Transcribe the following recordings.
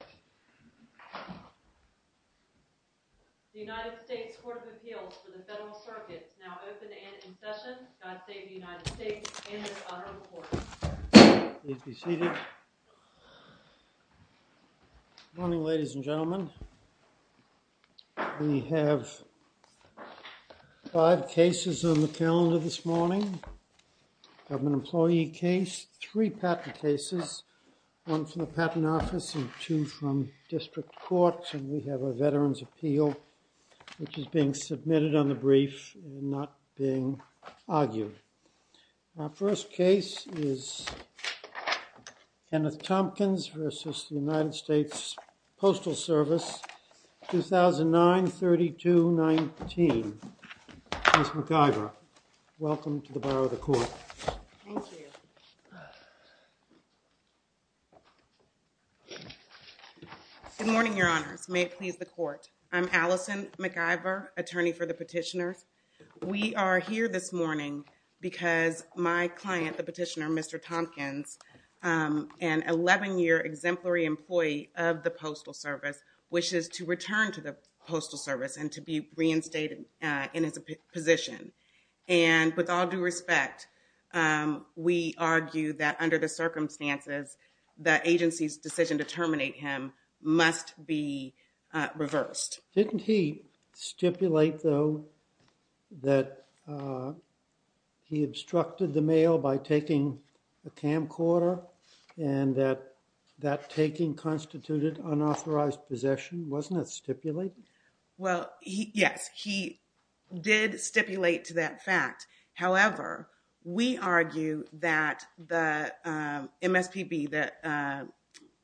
The United States Court of Appeals for the Federal Circuit is now open and in session. God save the United States and this honorable court. Please be seated. Good morning, ladies and gentlemen. We have five cases on the calendar this morning. Government employee case, three patent cases, one from the patent office and two from district court. And we have a veteran's appeal which is being submitted on the brief and not being argued. Our first case is Kenneth Tompkins v. The United States Postal Service, 2009-32-19. Ms. McIvor, welcome to the borough of the court. Thank you. Good morning, your honors. May it please the court. I'm Allison McIvor, attorney for the petitioners. We are here this morning because my client, the petitioner, Mr. Tompkins, an 11-year exemplary employee of the Postal Service wishes to return to the Postal Service and to be reinstated in his position. And with all due respect, we argue that under the circumstances, the agency's decision to terminate him must be reversed. Didn't he stipulate, though, that he obstructed the mail by taking a camcorder and that that taking constituted unauthorized possession? Wasn't it stipulated? Well, yes, he did stipulate to that fact. However, we argue that the MSPB, that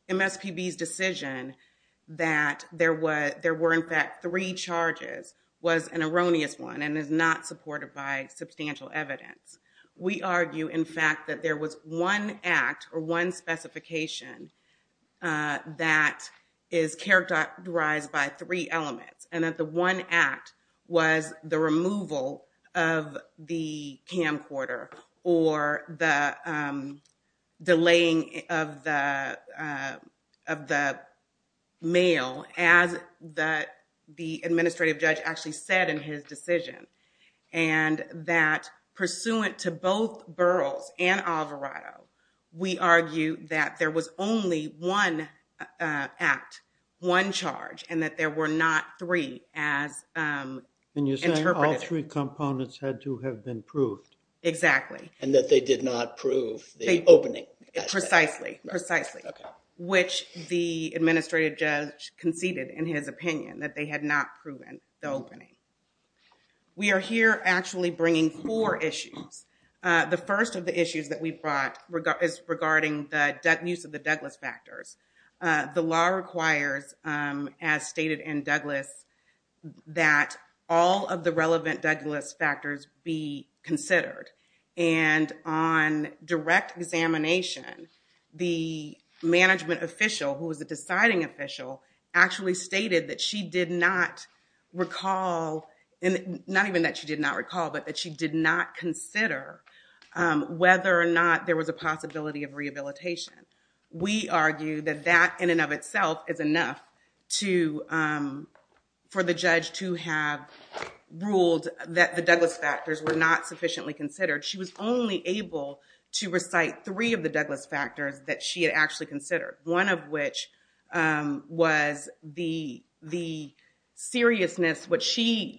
MSPB's decision that there were in fact three charges was an erroneous one and is not supported by substantial evidence. We argue, in fact, that there was one act or one specification that is characterized by three elements and that the one act was the removal of the camcorder or the delaying of the mail as the administrative judge actually said in his decision. And that pursuant to both Burroughs and Alvarado, we argue that there was only one act, one charge, and that there were not three as interpreted. And you're saying all three components had to have been proved. Exactly. And that they did not prove the opening. Precisely, precisely. Okay. Which the administrative judge conceded in his opinion that they had not proven the opening. We are here actually bringing four issues. The first of the issues that we brought is regarding the use of the Douglas factors. The law requires, as stated in Douglas, that all of the relevant Douglas factors be considered. And on direct examination, the management official, who was the deciding official, actually stated that she did not recall, not even that she did not recall, but that she did not consider whether or not there was a possibility of rehabilitation. We argue that that in and of itself is enough for the judge to have ruled that the Douglas factors were not sufficiently considered. She was only able to recite three of the Douglas factors that she had actually considered. One of which was the seriousness, which she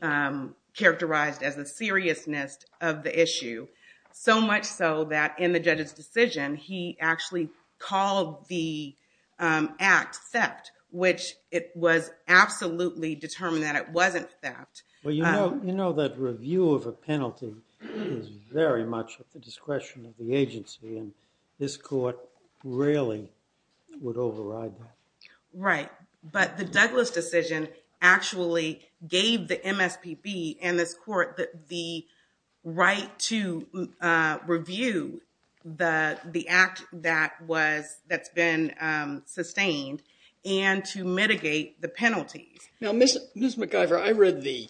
characterized as the seriousness of the issue. So much so that in the judge's decision, he actually called the act theft, which it was absolutely determined that it wasn't theft. Well, you know that review of a penalty is very much at the discretion of the agency, and this court rarely would override that. Right. But the Douglas decision actually gave the MSPB and this court the right to review the act that's been sustained and to mitigate the penalties. Now, Ms. McIvor, I read the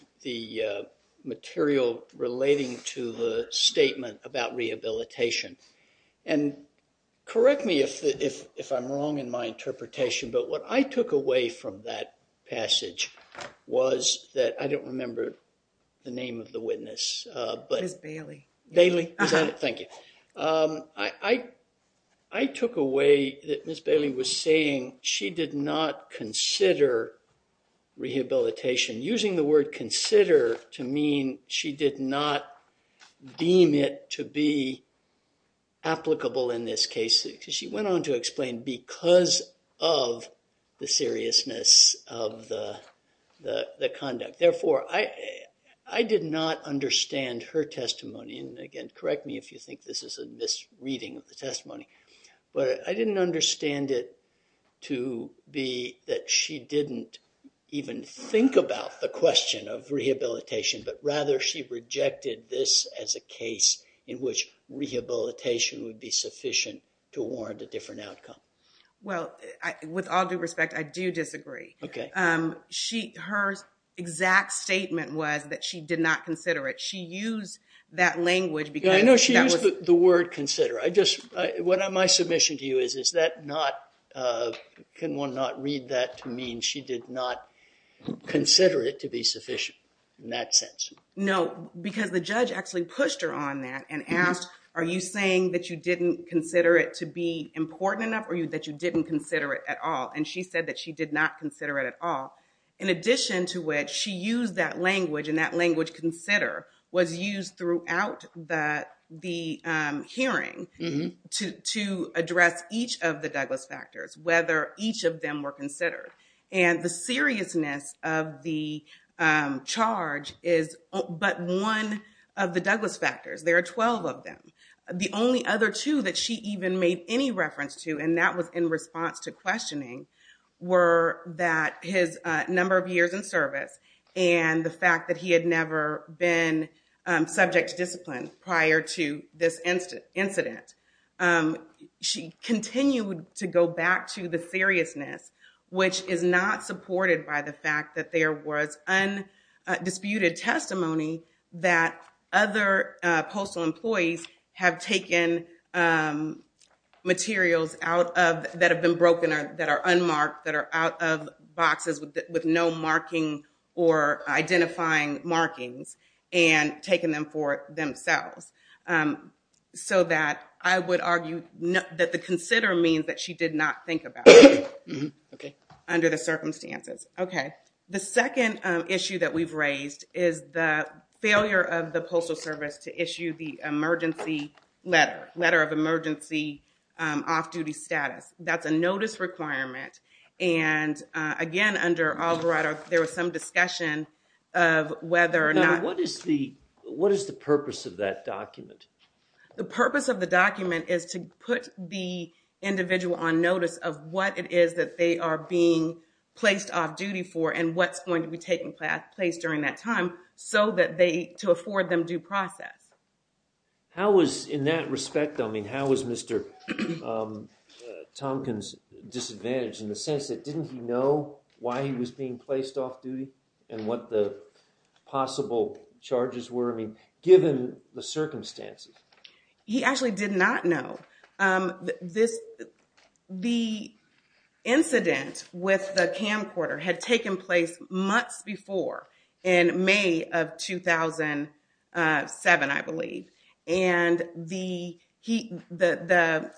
material relating to the statement about rehabilitation. And correct me if I'm wrong in my interpretation, but what I took away from that passage was that I don't remember the name of the witness. Ms. Bailey. Bailey. Thank you. I took away that Ms. Bailey was saying she did not consider rehabilitation. Using the word consider to mean she did not deem it to be applicable in this case. She went on to explain because of the seriousness of the conduct. I did not understand her testimony, and again, correct me if you think this is a misreading of the testimony, but I didn't understand it to be that she didn't even think about the question of rehabilitation, but rather she rejected this as a case in which rehabilitation would be sufficient to warrant a different outcome. Well, with all due respect, I do disagree. Okay. Her exact statement was that she did not consider it. She used that language because that was- Yeah, I know she used the word consider. What my submission to you is, is that not, can one not read that to mean she did not consider it to be sufficient in that sense? No, because the judge actually pushed her on that and asked, are you saying that you didn't consider it to be important enough or that you didn't consider it at all? And she said that she did not consider it at all, in addition to which she used that language and that language consider was used throughout the hearing to address each of the Douglas factors, whether each of them were considered. And the seriousness of the charge is but one of the Douglas factors. There are 12 of them. The only other two that she even made any reference to, and that was in response to questioning, were that his number of years in service and the fact that he had never been subject to discipline prior to this incident. She continued to go back to the seriousness, which is not supported by the fact that there was undisputed testimony that other postal employees have taken materials out of, that have been broken or that are unmarked, that are out of boxes with no marking or identifying markings and taking them for themselves. So that I would argue that the consider means that she did not think about it. Okay. Under the circumstances. Okay. The second issue that we've raised is the failure of the Postal Service to issue the emergency letter, letter of emergency off-duty status. That's a notice requirement. And again, under Alvarado, there was some discussion of whether or not... What is the purpose of that document? The purpose of the document is to put the individual on notice of what it is that they are being placed off-duty for and what's going to be taking place during that time so that they, to afford them due process. How was, in that respect, I mean, how was Mr. Tompkins disadvantaged in the sense that didn't he know why he was being placed off-duty and what the possible charges were, I mean, given the circumstances? He actually did not know. The incident with the camcorder had taken place months before in May of 2007, I believe. And the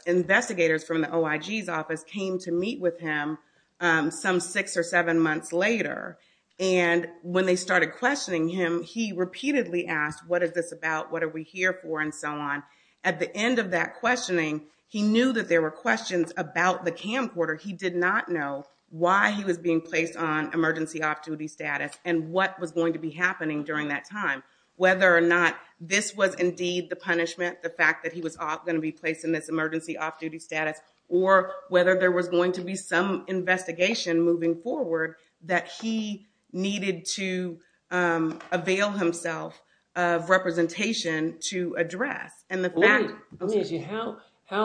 investigators from the OIG's office came to meet with him some six or seven months later and when they started questioning him, he repeatedly asked, what is this about, what are we here for, and so on. At the end of that questioning, he knew that there were questions about the camcorder. He did not know why he was being placed on emergency off-duty status and what was going to be happening during that time, whether or not this was indeed the punishment, the fact that he was going to be placed in this emergency off-duty status, or whether there was going to be some investigation moving forward that he needed to avail himself of representation to address. How,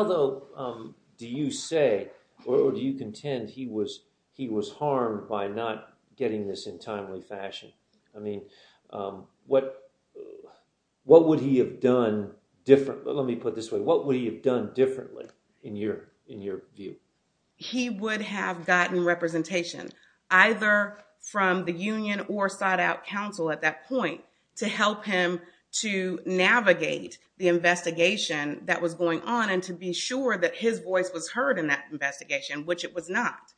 though, do you say or do you contend he was harmed by not getting this in timely fashion? I mean, what would he have done differently, let me put it this way, what would he have done differently in your view? He would have gotten representation, either from the union or sought out counsel at that point to help him to navigate the investigation that was going on and to be sure that his voice was heard in that investigation, which it was not.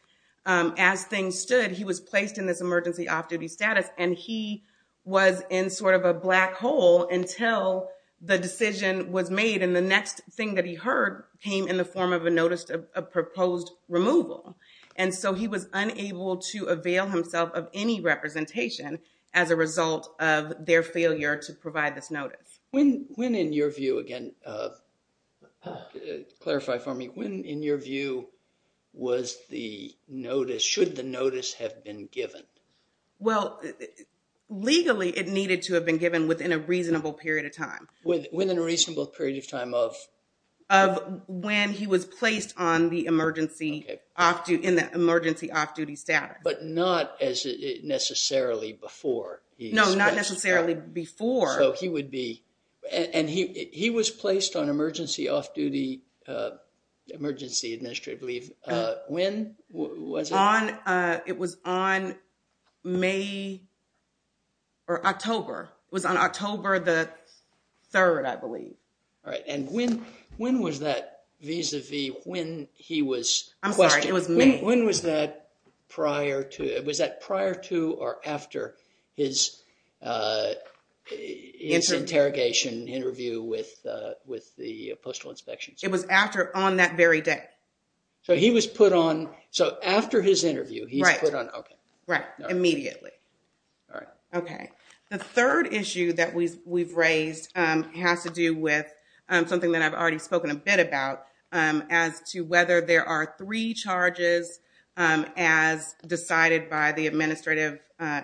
As things stood, he was placed in this emergency off-duty status, and he was in sort of a black hole until the decision was made, and the next thing that he heard came in the form of a notice of proposed removal. And so he was unable to avail himself of any representation as a result of their failure to provide this notice. When, in your view, again, clarify for me, when, in your view, was the notice, should the notice have been given? Well, legally it needed to have been given within a reasonable period of time. Within a reasonable period of time of? Of when he was placed on the emergency off-duty status. But not necessarily before. No, not necessarily before. So he would be, and he was placed on emergency off-duty, emergency administrative leave. When was it? It was on May, or October. It was on October the 3rd, I believe. All right, and when was that vis-a-vis when he was questioned? I'm sorry, it was May. When was that prior to, was that prior to or after his interrogation interview with the Postal Inspection? It was after, on that very day. So he was put on, so after his interview he was put on, okay. Right, immediately. All right. Okay. The third issue that we've raised has to do with something that I've already spoken a bit about, as to whether there are three charges as decided by the administrative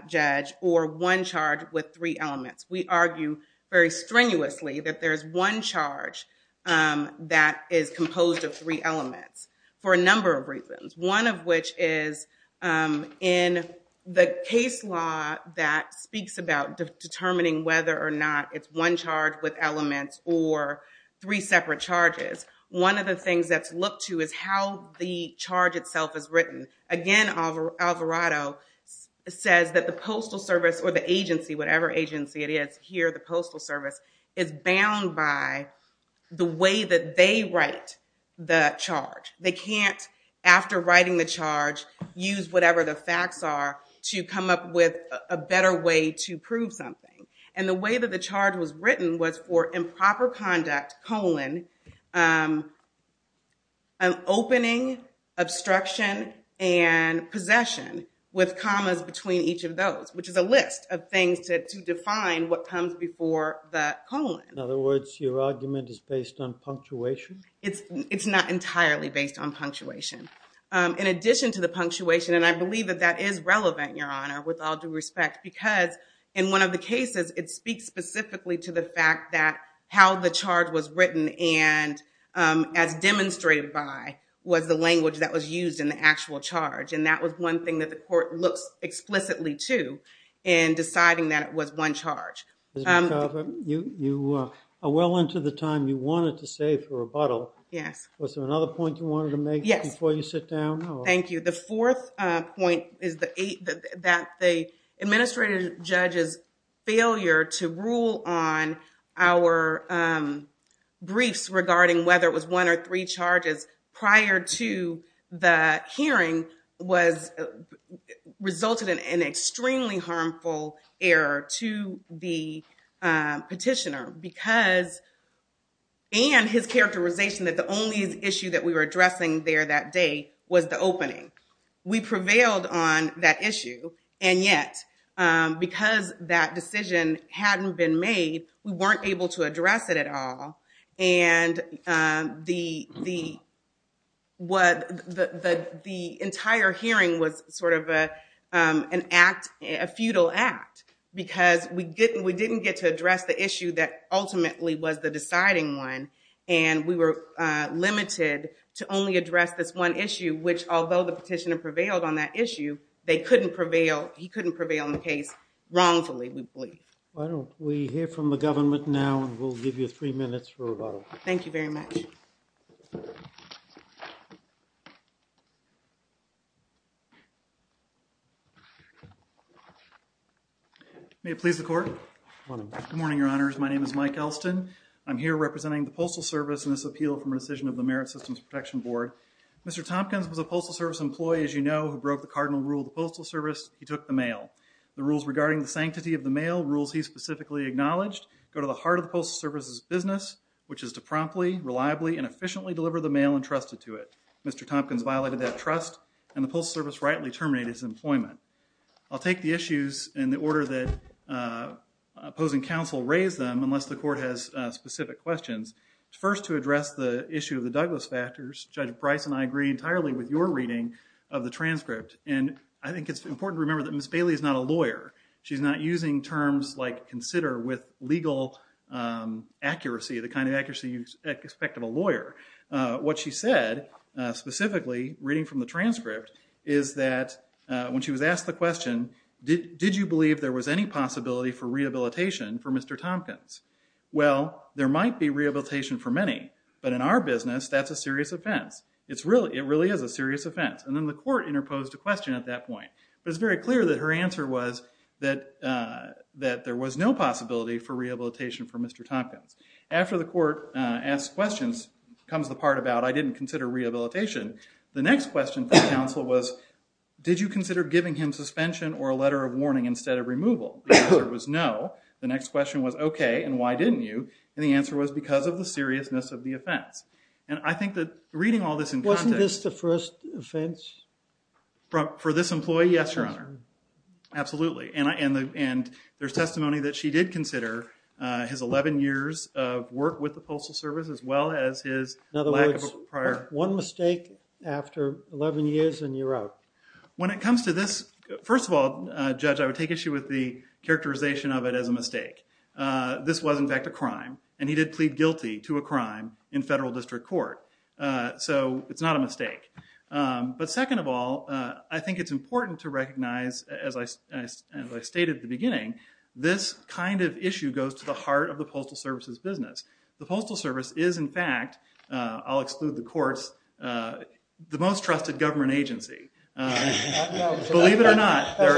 judge, or one charge with three elements. We argue very strenuously that there's one charge that is composed of three elements, for a number of reasons. One of which is, in the case law that speaks about determining whether or not it's one charge with elements, or three separate charges, one of the things that's looked to is how the charge itself is written. Again, Alvarado says that the Postal Service, or the agency, whatever agency it is here, the Postal Service, is bound by the way that they write the charge. They can't, after writing the charge, use whatever the facts are to come up with a better way to prove something. And the way that the charge was written was for improper conduct, colon, opening, obstruction, and possession, with commas between each of those, which is a list of things to define what comes before the colon. In other words, your argument is based on punctuation? It's not entirely based on punctuation. In addition to the punctuation, and I believe that that is relevant, Your Honor, with all due respect, because in one of the cases, it speaks specifically to the fact that how the charge was written, and as demonstrated by, was the language that was used in the actual charge. And that was one thing that the court looks explicitly to in deciding that it was one charge. Ms. McArthur, you are well into the time you wanted to save for rebuttal. Yes. Was there another point you wanted to make before you sit down? Yes. Thank you. The fourth point is that the administrative judge's failure to rule on our briefs regarding whether it was one or three charges prior to the hearing resulted in an extremely harmful error to the petitioner, and his characterization that the only issue that we were addressing there that day was the opening. We prevailed on that issue, and yet, because that decision hadn't been made, we weren't able to address it at all. And the entire hearing was sort of an act, a futile act, because we didn't get to address the issue that ultimately was the deciding one, and we were limited to only address this one issue, which, although the petitioner prevailed on that issue, they couldn't prevail, he couldn't prevail on the case wrongfully, we believe. Why don't we hear from the government now, and we'll give you three minutes for rebuttal. Thank you very much. May it please the Court? Good morning. Good morning, Your Honors. My name is Mike Elston. I'm here representing the Postal Service in this appeal from rescission of the Merit Systems Protection Board. Mr. Tompkins was a Postal Service employee, as you know, who broke the cardinal rule of the Postal Service. He took the mail. The rules regarding the sanctity of the mail, rules he specifically acknowledged, go to the heart of the Postal Service's business, which is to promptly, reliably, and efficiently deliver the mail entrusted to it. Mr. Tompkins violated that trust, and the Postal Service rightly terminated his employment. I'll take the issues in the order that opposing counsel raised them, unless the Court has specific questions. First, to address the issue of the Douglas factors, Judge Bryce and I agree entirely with your reading of the transcript, and I think it's important to remember that Ms. Bailey is not a lawyer. She's not using terms like consider with legal accuracy, the kind of accuracy you expect of a lawyer. What she said, specifically reading from the transcript, is that when she was asked the question, did you believe there was any possibility for rehabilitation for Mr. Tompkins? Well, there might be rehabilitation for many, but in our business, that's a serious offense. It really is a serious offense. And then the Court interposed a question at that point. It was very clear that her answer was that there was no possibility for rehabilitation for Mr. Tompkins. After the Court asked questions comes the part about, I didn't consider rehabilitation. The next question from counsel was, did you consider giving him suspension or a letter of warning instead of removal? The answer was no. The next question was, okay, and why didn't you? And the answer was because of the seriousness of the offense. And I think that reading all this in context. Wasn't this the first offense? For this employee, yes, Your Honor. Absolutely. And there's testimony that she did consider his 11 years of work with the Postal Service as well as his lack of a prior. In other words, one mistake after 11 years and you're out. When it comes to this, first of all, Judge, I would take issue with the characterization of it as a mistake. This was, in fact, a crime. And he did plead guilty to a crime in federal district court. So, it's not a mistake. But second of all, I think it's important to recognize, as I stated at the beginning, this kind of issue goes to the heart of the Postal Service's business. The Postal Service is, in fact, I'll exclude the courts, the most trusted government agency. Believe it or not, there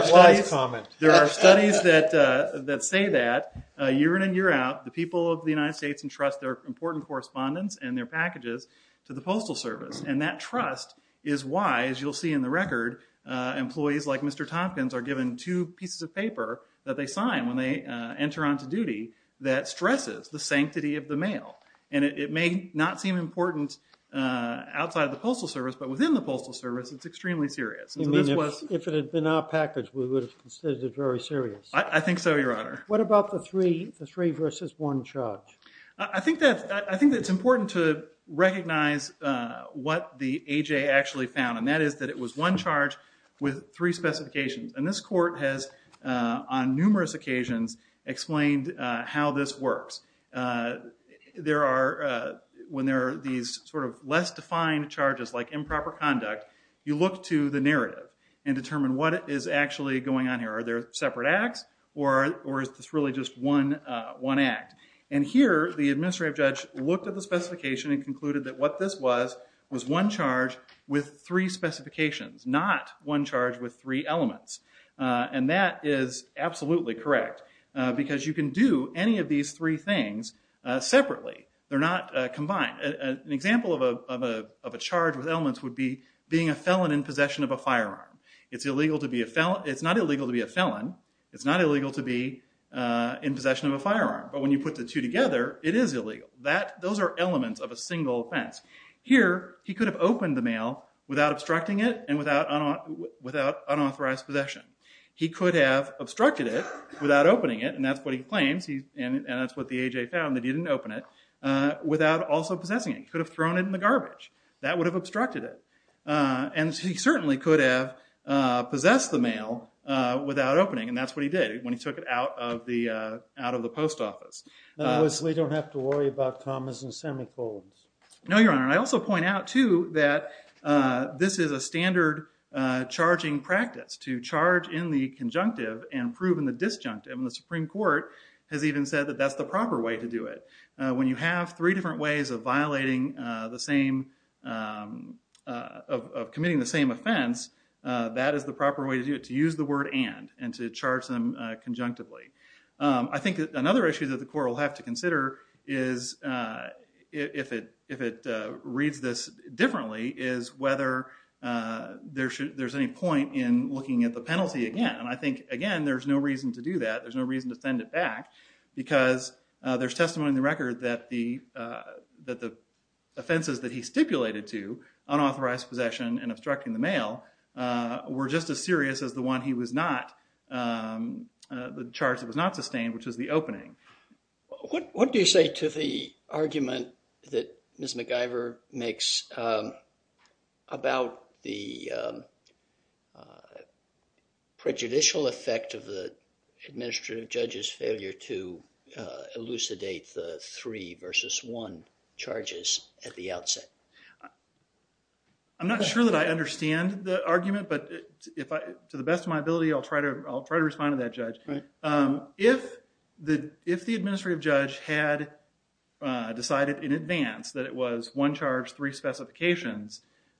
are studies that say that, year in and year out, the people of the United States entrust their important correspondence and their packages to the Postal Service. And that trust is why, as you'll see in the record, employees like Mr. Tompkins are given two pieces of paper that they sign when they enter on to duty that stresses the sanctity of the mail. And it may not seem important outside of the Postal Service, but within the Postal Service, it's extremely serious. If it had been our package, we would have considered it very serious. I think so, Your Honor. What about the three versus one charge? I think that it's important to recognize what the A.J. actually found. And that is that it was one charge with three specifications. And this court has, on numerous occasions, explained how this works. There are, when there are these sort of less defined charges like improper conduct, you look to the narrative and determine what is actually going on here. Are there separate acts, or is this really just one act? And here, the administrative judge looked at the specification and concluded that what this was was one charge with three specifications, not one charge with three elements. And that is absolutely correct, because you can do any of these three things separately. They're not combined. An example of a charge with elements would be being a felon in possession of a firearm. It's illegal to be a felon. It's not illegal to be a felon. It's not illegal to be in possession of a firearm. But when you put the two together, it is illegal. Those are elements of a single offense. Here, he could have opened the mail without obstructing it and without unauthorized possession. He could have obstructed it without opening it, and that's what he claims, and that's what the A.J. found, that he didn't open it, without also possessing it. He could have thrown it in the garbage. That would have obstructed it. And he certainly could have possessed the mail without opening it, and that's what he did when he took it out of the post office. In other words, we don't have to worry about commas and semicolons. No, Your Honor, and I also point out, too, that this is a standard charging practice, to charge in the conjunctive and prove in the disjunctive. And the Supreme Court has even said that that's the proper way to do it. When you have three different ways of violating the same, of committing the same offense, that is the proper way to do it, to use the word and, and to charge them conjunctively. I think another issue that the court will have to consider is, if it, if it reads this differently, is whether there should, there's any point in looking at the penalty again. And I think, again, there's no reason to do that. There's no reason to send it back, because there's testimony in the record that the, that the offenses that he stipulated to, unauthorized possession and obstructing the mail, were just as serious as the one he was not, the charge that was not sustained, which is the opening. What, what do you say to the argument that Ms. McGyver makes about the prejudicial effect of the administrative judge's failure to elucidate the three versus one charges at the outset? I'm not sure that I understand the argument, but if I, to the best of my ability, I'll try to, I'll try to respond to that, Judge. If the, if the administrative judge had decided in advance that it was one charge, three specifications,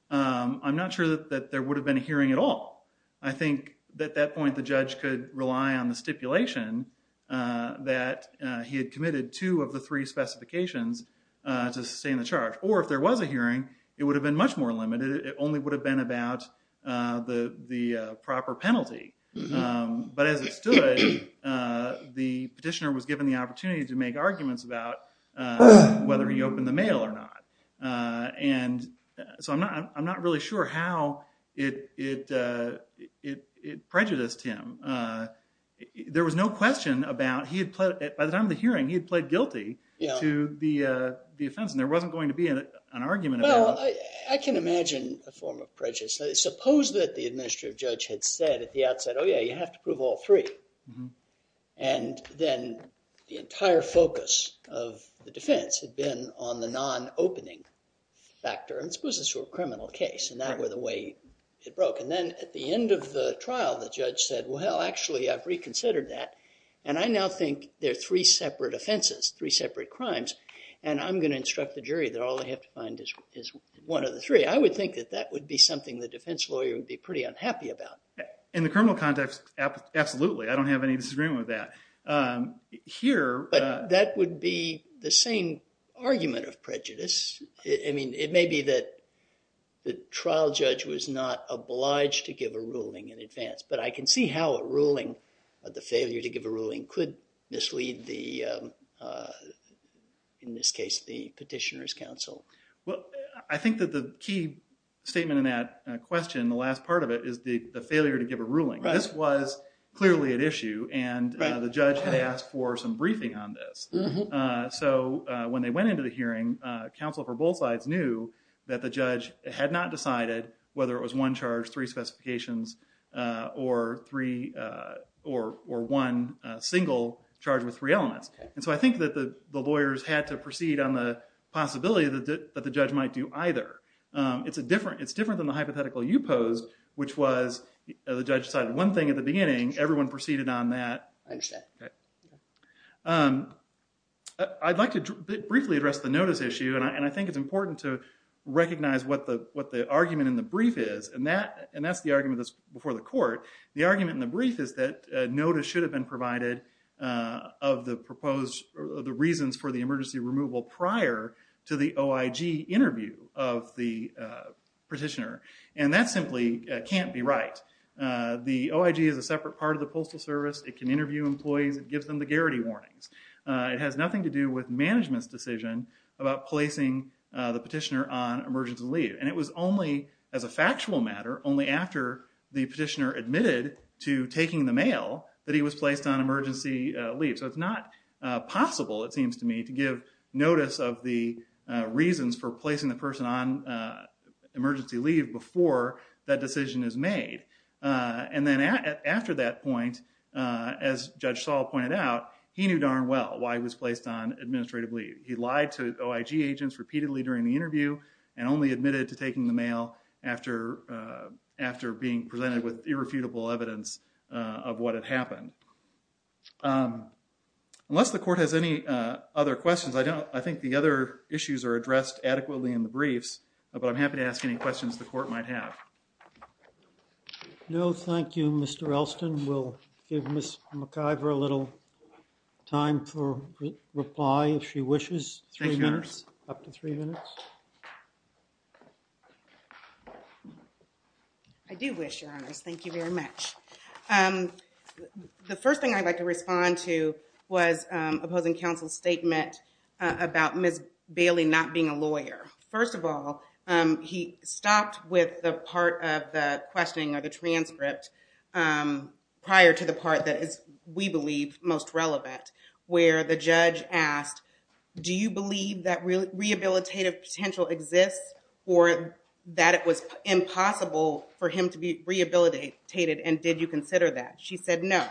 I'm not sure that there would have been a hearing at all. I think, at that point, the judge could rely on the stipulation that he had committed two of the three specifications to sustain the charge, or if there was a hearing, it would have been much more limited. It only would have been about the, the proper penalty. But as it stood, the petitioner was given the opportunity to make arguments about whether he opened the mail or not. And so I'm not, I'm not really sure how it, it, it, it prejudiced him. There was no question about, he had, by the time of the hearing, he had played guilty to the offense, and there wasn't going to be an argument about it. Well, I can imagine a form of prejudice. Suppose that the administrative judge had said at the outset, oh yeah, you have to prove all three. And then the entire focus of the defense had been on the non-opening factor. And this was a sort of criminal case, and that was the way it broke. And then at the end of the trial, the judge said, well, actually, I've reconsidered that, and I now think there are three separate offenses, three separate crimes, and I'm going to instruct the jury that all they have to find is, is one of the three. I would think that that would be something the defense lawyer would be pretty unhappy about. In the criminal context, absolutely. I don't have any disagreement with that. Here... But that would be the same argument of prejudice. I mean, it may be that the trial judge was not obliged to give a ruling in advance, but I can see how a ruling, the failure to give a ruling, could mislead the, in this case, the petitioner's counsel. Well, I think that the key statement in that question, the last part of it, is the failure to give a ruling. This was clearly at issue, and the judge had asked for some briefing on this. So when they went into the hearing, counsel for both sides knew that the judge had not decided whether it was one charge, three specifications, or three, or one single charge with three elements. And so I think that the lawyers had to proceed on the possibility that the judge might do either. It's a different, it's different than the hypothetical you posed, which was the judge decided one thing at the beginning, everyone proceeded on that. I understand. I'd like to briefly address the notice issue, and I think it's important to recognize what the argument in the brief is, and that's the argument that's before the court. The argument in the brief is that notice should have been provided of the proposed, the reasons for the emergency removal prior to the OIG interview of the petitioner, and that simply can't be right. The OIG is a separate part of the Postal Service. It can interview employees. It gives them the garrity warnings. It has nothing to do with management's decision about placing the petitioner on emergency leave, and it was only as a factual matter, only after the petitioner admitted to taking the mail, that he was placed on emergency leave. So it's not possible, it seems to me, to give notice of the reasons for placing the person on emergency leave before that decision is made. And then after that point, as Judge Saul pointed out, he knew darn well why he was placed on administrative leave. He lied to OIG agents repeatedly during the interview and only admitted to taking the mail after being presented with irrefutable evidence of what had happened. Unless the court has any other questions, I think the other issues are addressed adequately in the briefs, but I'm happy to ask any questions the court might have. No, thank you, Mr. Elston. We'll give Ms. McIver a little time for reply if she wishes. Thank you, Your Honors. Up to three minutes. I do wish, Your Honors. Thank you very much. The first thing I'd like to respond to was opposing counsel's statement about Ms. Bailey not being a lawyer. First of all, he stopped with the part of the questioning or the transcript prior to the part that is, we believe, most relevant, where the judge asked, do you believe that rehabilitative potential exists or that it was impossible for him to be rehabilitated and did you consider that? She said no.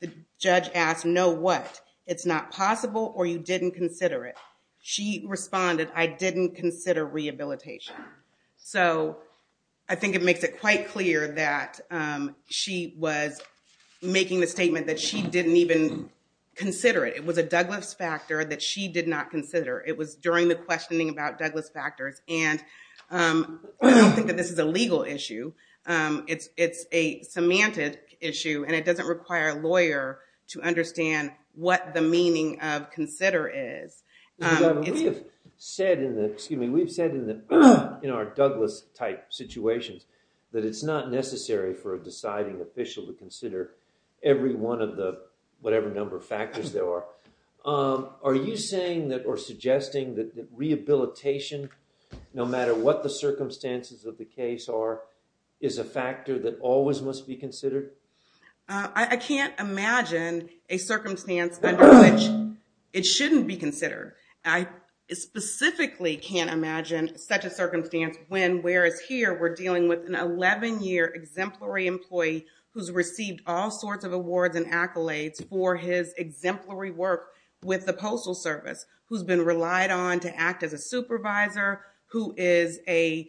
The judge asked, no what? It's not possible or you didn't consider it? She responded, I didn't consider rehabilitation. So I think it makes it quite clear that she was making the statement that she didn't even consider it. It was a Douglas factor that she did not consider. It was during the questioning about Douglas factors, and I don't think that this is a legal issue. It's a semantic issue and it doesn't require a lawyer to understand what the meaning of consider is. We've said in our Douglas type situations that it's not necessary for a deciding official to consider every one of the whatever number of factors there are. Are you saying or suggesting that rehabilitation, no matter what the circumstances of the case are, is a factor that always must be considered? I can't imagine a circumstance under which it shouldn't be considered. I specifically can't imagine such a circumstance when, whereas here, we're dealing with an 11-year exemplary employee who's received all sorts of awards and accolades for his exemplary work with the Postal Service, who's been relied on to act as a supervisor, who is a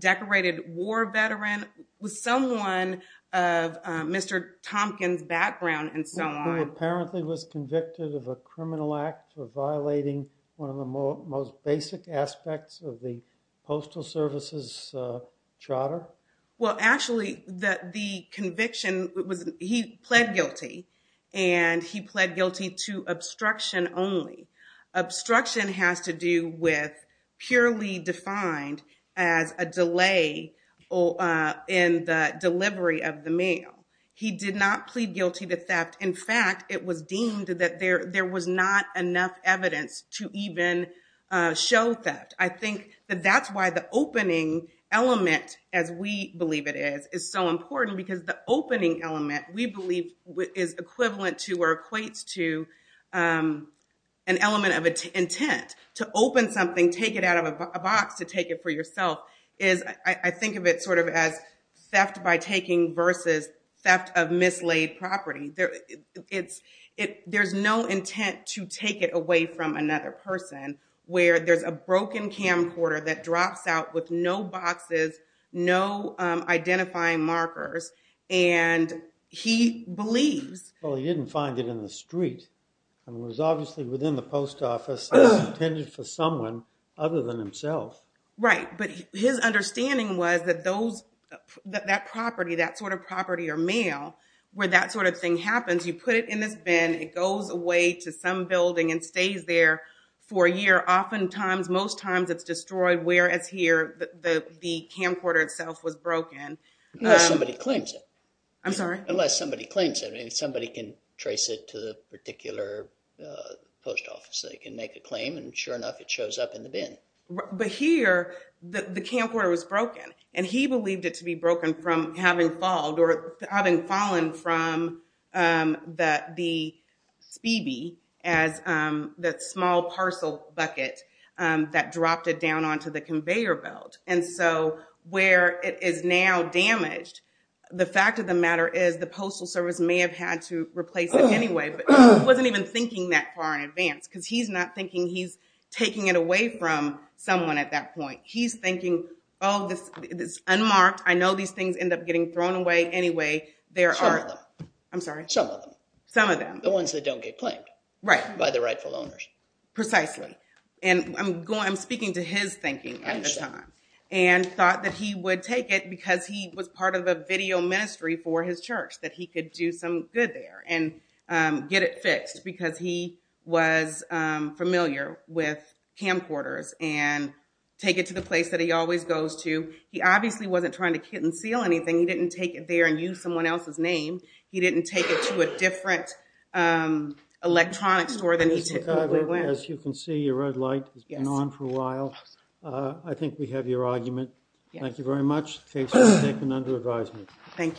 decorated war veteran, with someone of Mr. Tompkins' background and so on. He apparently was convicted of a criminal act for violating one of the most basic aspects of the Postal Service's charter? Well, actually, the conviction was he pled guilty, and he pled guilty to obstruction only. Obstruction has to do with purely defined as a delay in the delivery of the mail. He did not plead guilty to theft. In fact, it was deemed that there was not enough evidence to even show theft. I think that that's why the opening element, as we believe it is, is so important because the opening element, we believe, is equivalent to or equates to an element of intent. To open something, take it out of a box to take it for yourself, I think of it sort of as theft by taking versus theft of mislaid property. There's no intent to take it away from another person where there's a broken camcorder that drops out with no boxes, no identifying markers, and he believes— Right, but his understanding was that that property, that sort of property or mail, where that sort of thing happens, you put it in this bin, it goes away to some building and stays there for a year. Oftentimes, most times, it's destroyed, whereas here, the camcorder itself was broken. Unless somebody claims it. I'm sorry? Sure enough, it shows up in the bin. But here, the camcorder was broken, and he believed it to be broken from having fallen from the speedy as that small parcel bucket that dropped it down onto the conveyor belt. And so, where it is now damaged, the fact of the matter is the Postal Service may have had to replace it anyway, but he wasn't even thinking that far in advance because he's not thinking he's taking it away from someone at that point. He's thinking, oh, it's unmarked. I know these things end up getting thrown away anyway. There are— Some of them. I'm sorry? Some of them. Some of them. The ones that don't get claimed. Right. By the rightful owners. Precisely. I'm speaking to his thinking at the time. I understand. And thought that he would take it because he was part of a video ministry for his church, that he could do some good there and get it fixed because he was familiar with camcorders and take it to the place that he always goes to. He obviously wasn't trying to conceal anything. He didn't take it there and use someone else's name. He didn't take it to a different electronic store than he typically went. As you can see, your red light has been on for a while. I think we have your argument. Thank you very much. The case has been taken under advisement. Thank you.